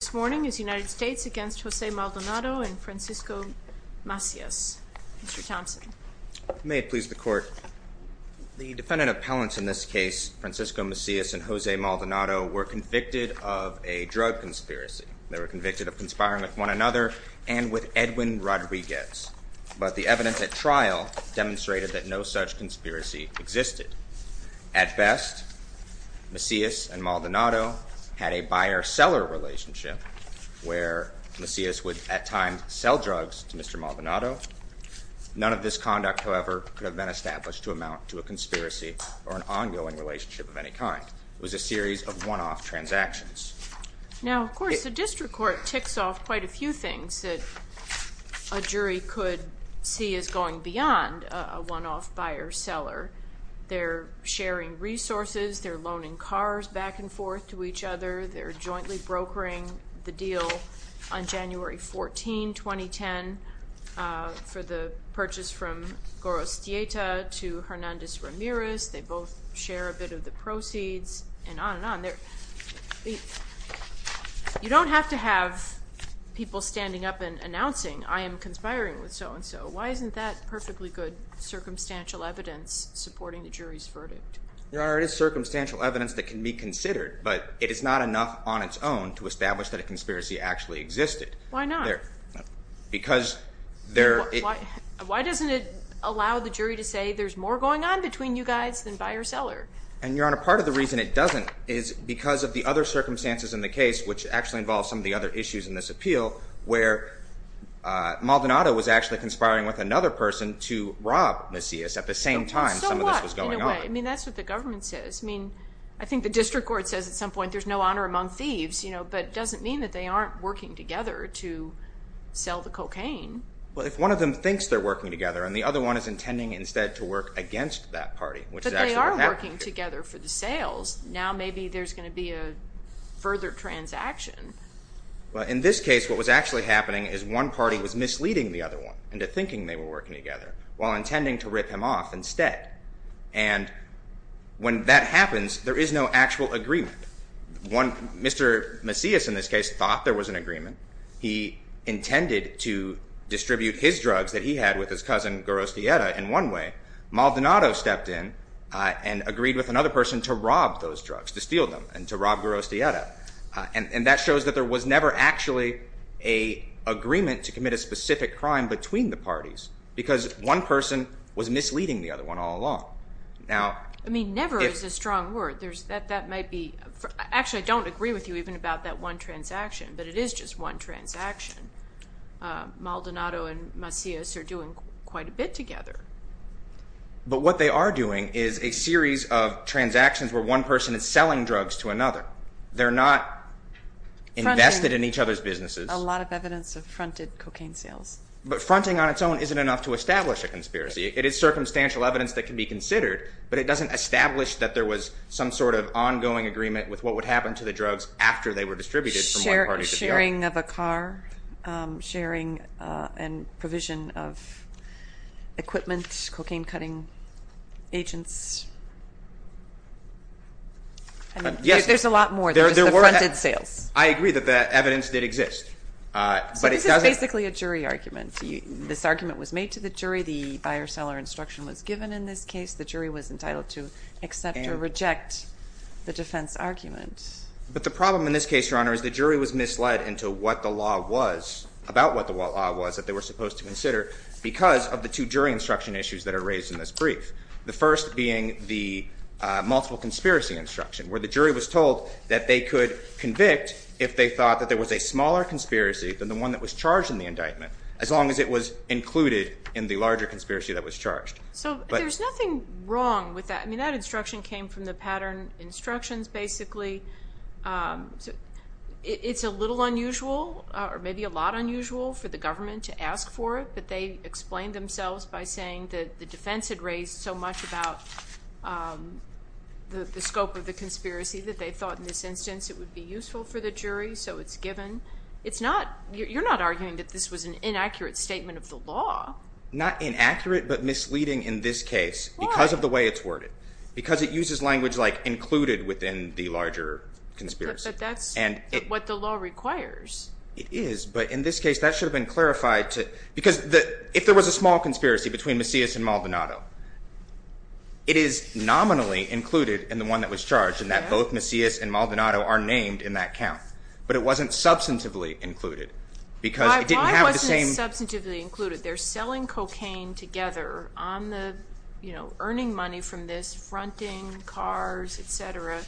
This morning is the United States against Jose Maldonado and Francisco Macias. Mr. Thompson. May it please the court. The defendant appellants in this case, Francisco Macias and Jose Maldonado, were convicted of a drug conspiracy. They were convicted of conspiring with one another and with Edwin Rodriguez, but the evidence at trial demonstrated that no such conspiracy existed. At best, Macias and Maldonado had a buyer-seller relationship where Macias would at times sell drugs to Mr. Maldonado. None of this conduct, however, could have been established to amount to a conspiracy or an ongoing relationship of any kind. It was a series of one-off transactions. Now, of course, the district court ticks off quite a few things that a jury could see as going beyond a one-off buyer-seller. They're sharing resources. They're loaning cars back and forth to each other. They're jointly brokering the deal on January 14, 2010 for the purchase from Gorostieta to Hernandez Ramirez. They both share a bit of the proceeds and on and on. You don't have to have people standing up and announcing, I am conspiring with so-and-so. Why isn't that perfectly good circumstantial evidence supporting the jury's verdict? Your Honor, it is circumstantial evidence that can be considered, but it is not enough on its own to establish that a conspiracy actually existed. Why not? Because... Why doesn't it allow the jury to say there's more going on between you guys than buyer-seller? And, Your Honor, part of the reason it doesn't is because of the other circumstances in the case, which actually involves some of the other issues in this appeal, where Maldonado was actually conspiring with another person to rob Macias at the same time some of this was going on. I mean, that's what the government says. I mean, I think the district court says at some point there's no honor among thieves, you know, but it doesn't mean that they aren't working together to sell the cocaine. Well, if one of them thinks they're working together and the other one is intending instead to work against that party... They are working together for the sales. Now maybe there's going to be a further transaction. Well, in this case, what was actually happening is one party was misleading the other one into thinking they were working together while intending to rip him off instead. And when that happens, there is no actual agreement. One... Mr. Macias, in this case, thought there was an agreement. He intended to distribute his drugs that he had with his cousin, Garostieta, in one way. Maldonado stepped in and agreed with another person to rob those drugs, to steal them, and to rob Garostieta. And that shows that there was never actually an agreement to commit a specific crime between the parties because one person was misleading the other one all along. Now... I mean, never is a strong word. There's... That might be... Actually, I don't agree with you even about that one transaction, but it is just one transaction. Maldonado and Macias are doing quite a bit together. But what they are doing is a series of transactions where one person is selling drugs to another. They're not invested in each other's businesses. A lot of evidence of fronted cocaine sales. But fronting on its own isn't enough to establish a conspiracy. It is circumstantial evidence that can be considered, but it doesn't establish that there was some sort of ongoing agreement with what would happen to the drugs after they were distributed from sharing of a car, sharing and provision of equipment, cocaine cutting agents. Yes, there's a lot more than just the fronted sales. I agree that the evidence did exist, but it doesn't... This is basically a jury argument. This argument was made to the jury. The buyer-seller instruction was given in this case. The jury was entitled to accept or reject the defense argument. But the problem in this case, Your Honor, is the jury was misled into what the law was, about what the law was that they were supposed to consider because of the two jury instruction issues that are raised in this brief. The first being the multiple conspiracy instruction, where the jury was told that they could convict if they thought that there was a smaller conspiracy than the one that was charged in the indictment, as long as it was included in the larger conspiracy that was charged. So there's nothing wrong with that. I mean, that instruction came from the pattern instructions, basically. It's a little unusual or maybe a lot unusual for the government to ask for it, but they explained themselves by saying that the defense had raised so much about the scope of the conspiracy that they thought in this instance it would be useful for the jury, so it's given. It's not... You're not arguing that this was an inaccurate statement of the law. Not inaccurate, but misleading in this case because of the way it's worded, because it uses language like included within the larger conspiracy. But that's what the law requires. It is, but in this case, that should have been clarified to... Because if there was a small conspiracy between Macias and Maldonado, it is nominally included in the one that was charged and that both Macias and Maldonado are named in that count, but it wasn't substantively included because it didn't have the same... Why wasn't it substantively included? They're selling cocaine together on the... Fronting, cars, et cetera,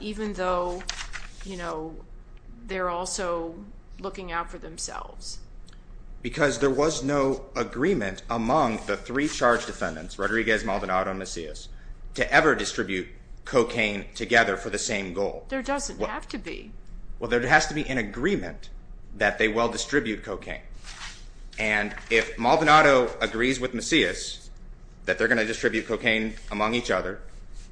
even though they're also looking out for themselves. Because there was no agreement among the three charged defendants, Rodriguez, Maldonado, Macias, to ever distribute cocaine together for the same goal. There doesn't have to be. Well, there has to be an agreement that they will distribute cocaine. And if Maldonado agrees with Macias that they're going to distribute cocaine among each other,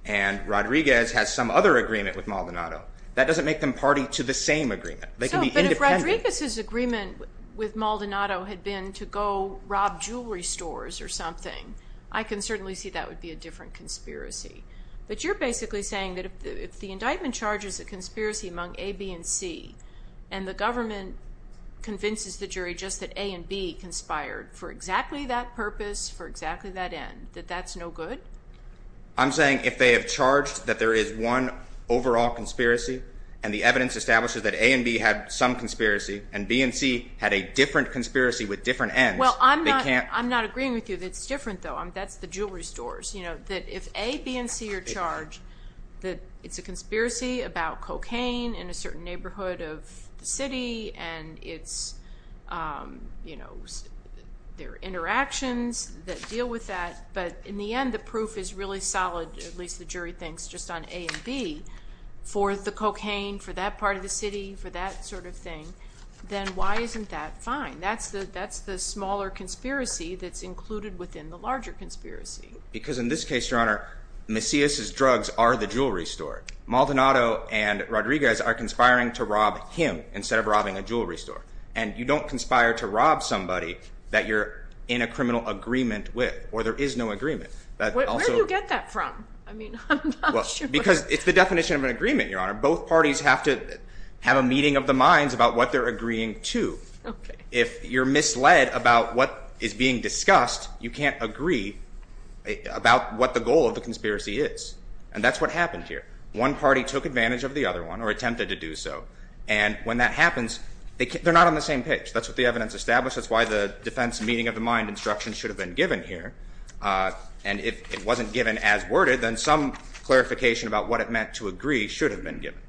and Rodriguez has some other agreement with Maldonado, that doesn't make them party to the same agreement. So, but if Rodriguez's agreement with Maldonado had been to go rob jewelry stores or something, I can certainly see that would be a different conspiracy. But you're basically saying that if the indictment charges a conspiracy among A, B, and C, and the government convinces the jury just that A and B conspired for exactly that purpose, for exactly that end, that that's no good? I'm saying if they have charged that there is one overall conspiracy, and the evidence establishes that A and B had some conspiracy, and B and C had a different conspiracy with different ends, they can't... I'm not agreeing with you that it's different, though. That's the jewelry stores. If A, B, and C are charged that it's a conspiracy about cocaine in a certain neighborhood of the city, and it's, you know, there are interactions that deal with that, but in the end, the proof is really solid, at least the jury thinks, just on A and B, for the cocaine, for that part of the city, for that sort of thing, then why isn't that fine? That's the smaller conspiracy that's included within the larger conspiracy. Because in this case, Your Honor, Macias' drugs are the jewelry store. Maldonado and Rodriguez are conspiring to rob him instead of robbing a jewelry store. And you don't conspire to rob somebody that you're in a criminal agreement with, or there is no agreement. Where do you get that from? I mean, I'm not sure. Because it's the definition of an agreement, Your Honor. Both parties have to have a meeting of the minds about what they're agreeing to. If you're misled about what is being discussed, you can't agree about what the goal of the conspiracy is. And that's what happened here. One party took advantage of the other one, or attempted to do so. And when that happens, they're not on the same page. That's what the evidence establishes. That's why the defense meeting of the mind instruction should have been given here. And if it wasn't given as worded, then some clarification about what it meant to agree should have been given.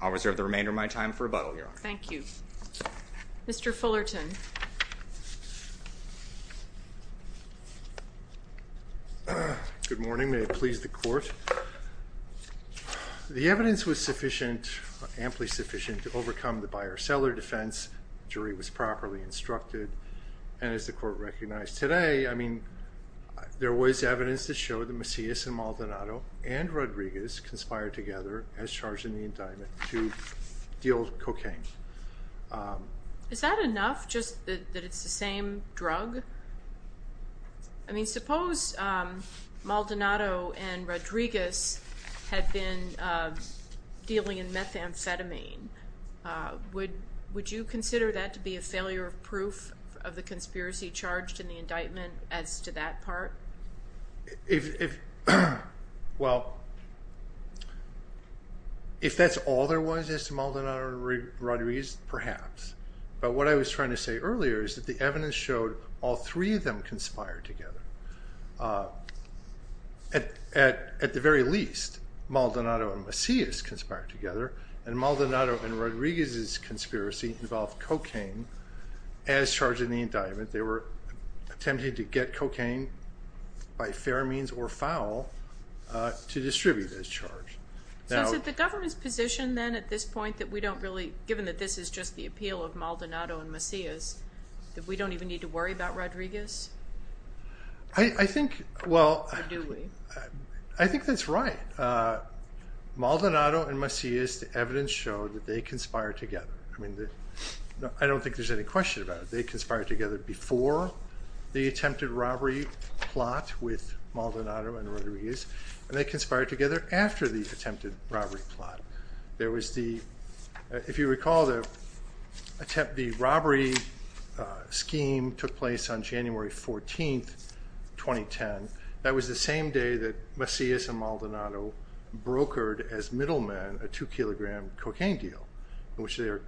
I'll reserve the remainder of my time for rebuttal, Your Honor. Thank you. Mr. Fullerton. Good morning. May it please the court. The evidence was sufficient, amply sufficient, to overcome the buyer-seller defense. Jury was properly instructed. And as the court recognized today, I mean, there was evidence to show that Macias and Maldonado and Rodriguez conspired together as charged in the indictment to deal cocaine. Is that enough, just that it's the same drug? I mean, suppose Maldonado and Rodriguez had been dealing in methamphetamine. Would you consider that to be a failure of proof of the conspiracy charged in the indictment as to that part? Well, if that's all there was as to Maldonado and Rodriguez, perhaps. But what I was trying to say earlier is that the evidence showed all three of them conspired together. At the very least, Maldonado and Macias conspired together, and Maldonado and Rodriguez's conspiracy involved cocaine as charged in the indictment. They were attempting to get cocaine by fair means or foul to distribute as charged. So is it the government's position then at this point that we don't really, given that this is just the appeal of Maldonado and Macias, that we don't even need to worry about Rodriguez? I think, well, I think that's right. Maldonado and Macias, the evidence showed that they conspired together. I mean, I don't think there's any question about it. They conspired together before the attempted robbery plot with Maldonado and Rodriguez, and they conspired together after the attempted robbery plot. There was the, if you recall, the robbery scheme took place on January 14, 2010. That was the same day that Macias and Maldonado brokered as middlemen a two kilogram cocaine deal, in which they are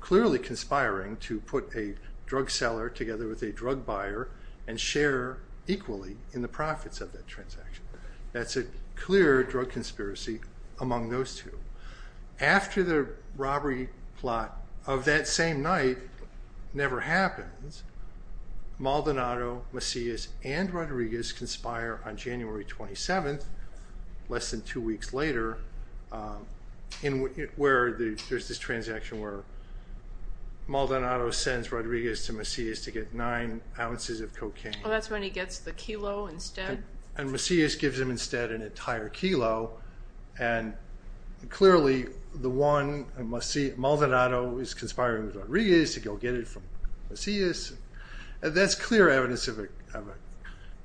clearly conspiring to put a drug seller together with a drug buyer and share equally in the profits of that transaction. That's a clear drug conspiracy among those two. After the robbery plot of that same night never happens, Maldonado, Macias, and Rodriguez conspire on January 27th, less than two weeks later, where there's this transaction where Maldonado sends Rodriguez to Macias to get nine ounces of cocaine. Well, that's when he gets the kilo instead. And Macias gives him instead an entire kilo. And clearly, the one, Maldonado is conspiring with Rodriguez to go get it from Macias. That's clear evidence of a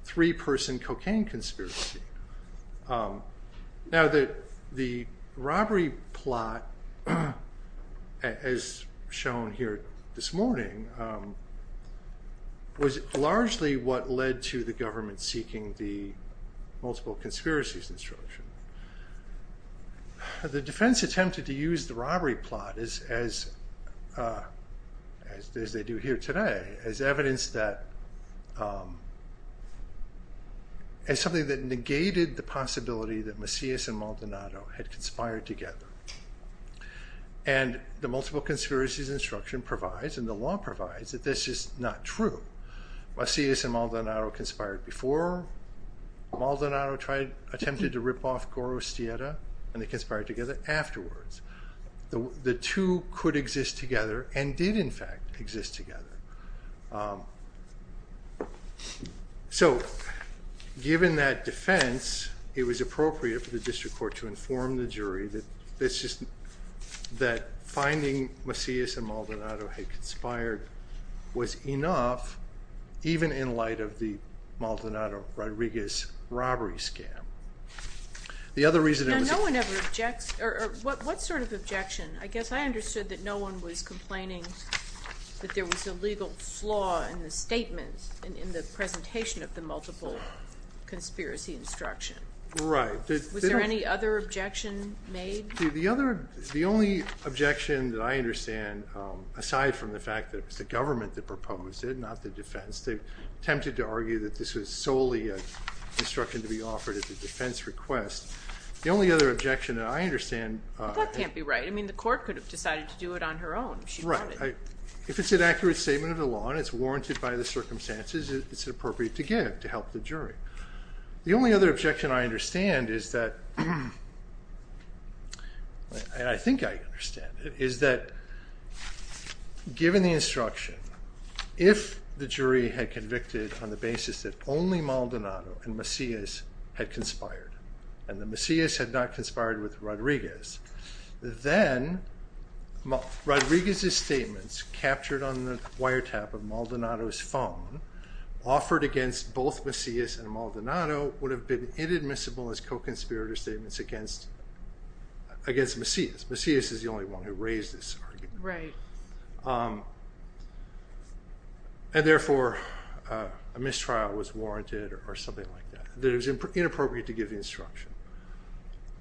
three person cocaine conspiracy. Now, the robbery plot, as shown here this morning, was largely what led to the government seeking the multiple conspiracies instruction. The defense attempted to use the robbery plot, as they do here today, as evidence that as something that negated the possibility that Macias and Maldonado had conspired together. And the multiple conspiracies instruction provides, and the law provides, that this is not true. Macias and Maldonado conspired before. Maldonado attempted to rip off Goro Stietta, and they conspired together afterwards. The two could exist together and did, in fact, exist together. So, given that defense, it was appropriate for the district court to inform the jury that this is, that finding Macias and Maldonado had conspired was enough, even in light of the Maldonado-Rodriguez robbery scam. The other reason... Now, no one ever objects, or what sort of objection? I guess I understood that no one was complaining that there was a legal flaw in the statement, in the presentation of the multiple conspiracy instruction. Right. Was there any other objection made? The only objection that I understand, aside from the fact that it was the government that proposed it, not the defense, they attempted to argue that this was solely an instruction to be offered at the defense request. The only other objection that I understand... That can't be right. I mean, the court could have decided to do it on her own. She brought it. If it's an accurate statement of the law, and it's warranted by the circumstances, it's appropriate to give, to help the jury. The only other objection I understand is that... And I think I understand, is that given the instruction, if the jury had convicted on the basis that only Maldonado and Macias had conspired, and the Macias had not conspired with Rodriguez, then Rodriguez's statements captured on the wiretap of Maldonado's phone, offered against both Macias and Maldonado, would have been inadmissible as co-conspirator statements against Macias. Macias is the only one who raised this argument. Right. And therefore, a mistrial was warranted or something like that. That it was inappropriate to give the instruction.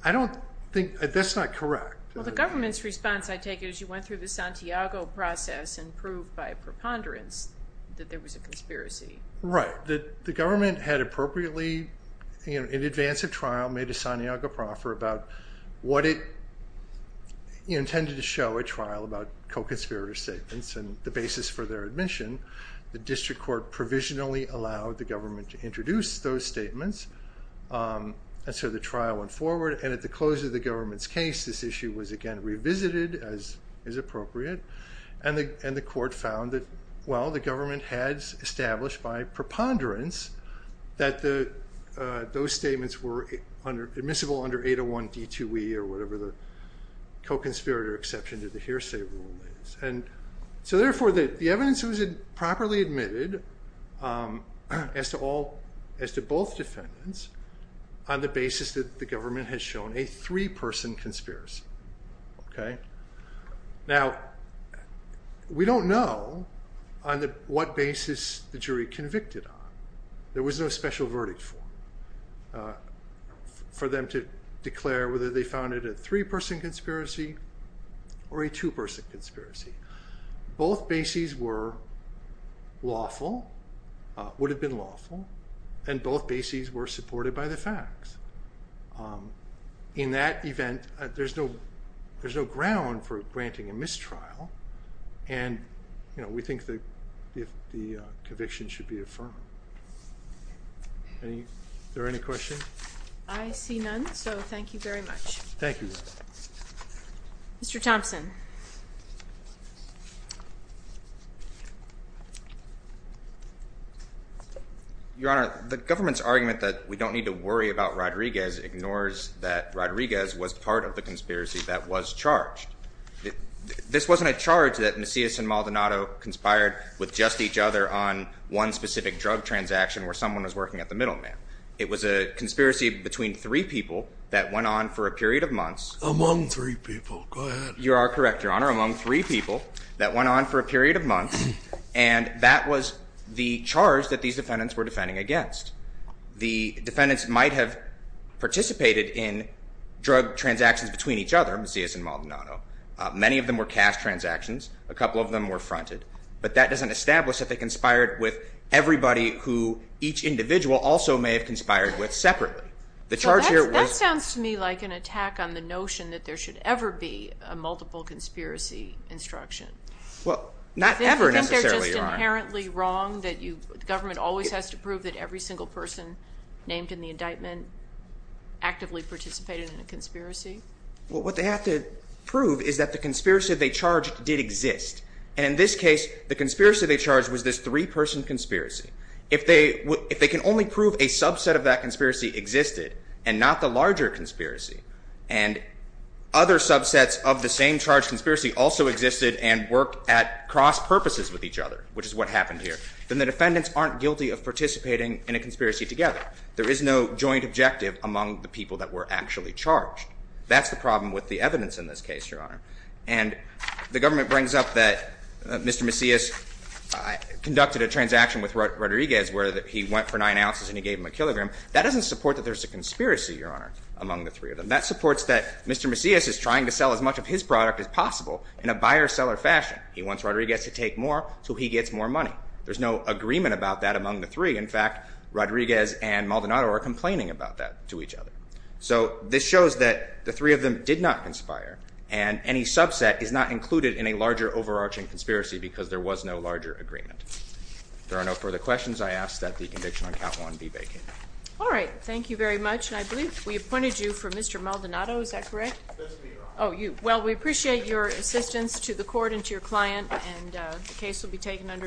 I don't think... That's not correct. Well, the government's response, I take it, is you went through the Santiago process and by preponderance that there was a conspiracy. Right. The government had appropriately, in advance of trial, made a Santiago proffer about what it intended to show at trial about co-conspirator statements and the basis for their admission. The district court provisionally allowed the government to introduce those statements, and so the trial went forward. And at the close of the government's case, this issue was again revisited as is appropriate, and the court found that, well, the government has established by preponderance that those statements were admissible under 801 D2E or whatever the co-conspirator exception to the hearsay rule is. And so therefore, the evidence was properly admitted as to both defendants on the basis that the government has shown a three-person conspiracy. Okay. Now, we don't know on what basis the jury convicted on. There was no special verdict for them to declare whether they found it a three-person conspiracy or a two-person conspiracy. Both bases were lawful, would have been lawful, and both bases were supported by the facts. In that event, there's no ground for granting a mistrial, and we think the conviction should be affirmed. Is there any questions? I see none, so thank you very much. Thank you. Mr. Thompson. Your Honor, the government's argument that we don't need to worry about Rodriguez ignores that Rodriguez was part of the conspiracy that was charged. This wasn't a charge that Macias and Maldonado conspired with just each other on one specific drug transaction where someone was working at the middleman. It was a conspiracy between three people that went on for a period of months. Among three people. Go ahead. You are correct, Your Honor. Among three people that went on for a period of months, and that was the charge that these defendants were defending against. The defendants might have participated in drug transactions between each other, Macias and Maldonado. Many of them were cash transactions. A couple of them were fronted. But that doesn't establish that they conspired with everybody who each individual also may have conspired with separately. The charge here was- Conspiracy instruction. Well, not ever necessarily wrong that you government always has to prove that every single person named in the indictment actively participated in a conspiracy. Well, what they have to prove is that the conspiracy they charged did exist. And in this case, the conspiracy they charged was this three person conspiracy. If they if they can only prove a subset of that conspiracy existed and not the larger conspiracy, and other subsets of the same charge conspiracy also existed and work at cross purposes with each other, which is what happened here, then the defendants aren't guilty of participating in a conspiracy together. There is no joint objective among the people that were actually charged. That's the problem with the evidence in this case, Your Honor. And the government brings up that Mr. Macias conducted a transaction with Rodriguez where he went for nine ounces and he gave him a kilogram. That doesn't support that there's a conspiracy, Your Honor, among the three of them. That supports that Mr. Macias is trying to sell as much of his product as possible in a buyer-seller fashion. He wants Rodriguez to take more so he gets more money. There's no agreement about that among the three. In fact, Rodriguez and Maldonado are complaining about that to each other. So this shows that the three of them did not conspire and any subset is not included in a larger overarching conspiracy because there was no larger agreement. There are no further questions. I ask that the conviction on count one be vacated. All right. Thank you very much. And I believe we appointed you for Mr. Maldonado. Is that correct? Oh, well, we appreciate your assistance to the court and to your client. And the case will be taken under advisement.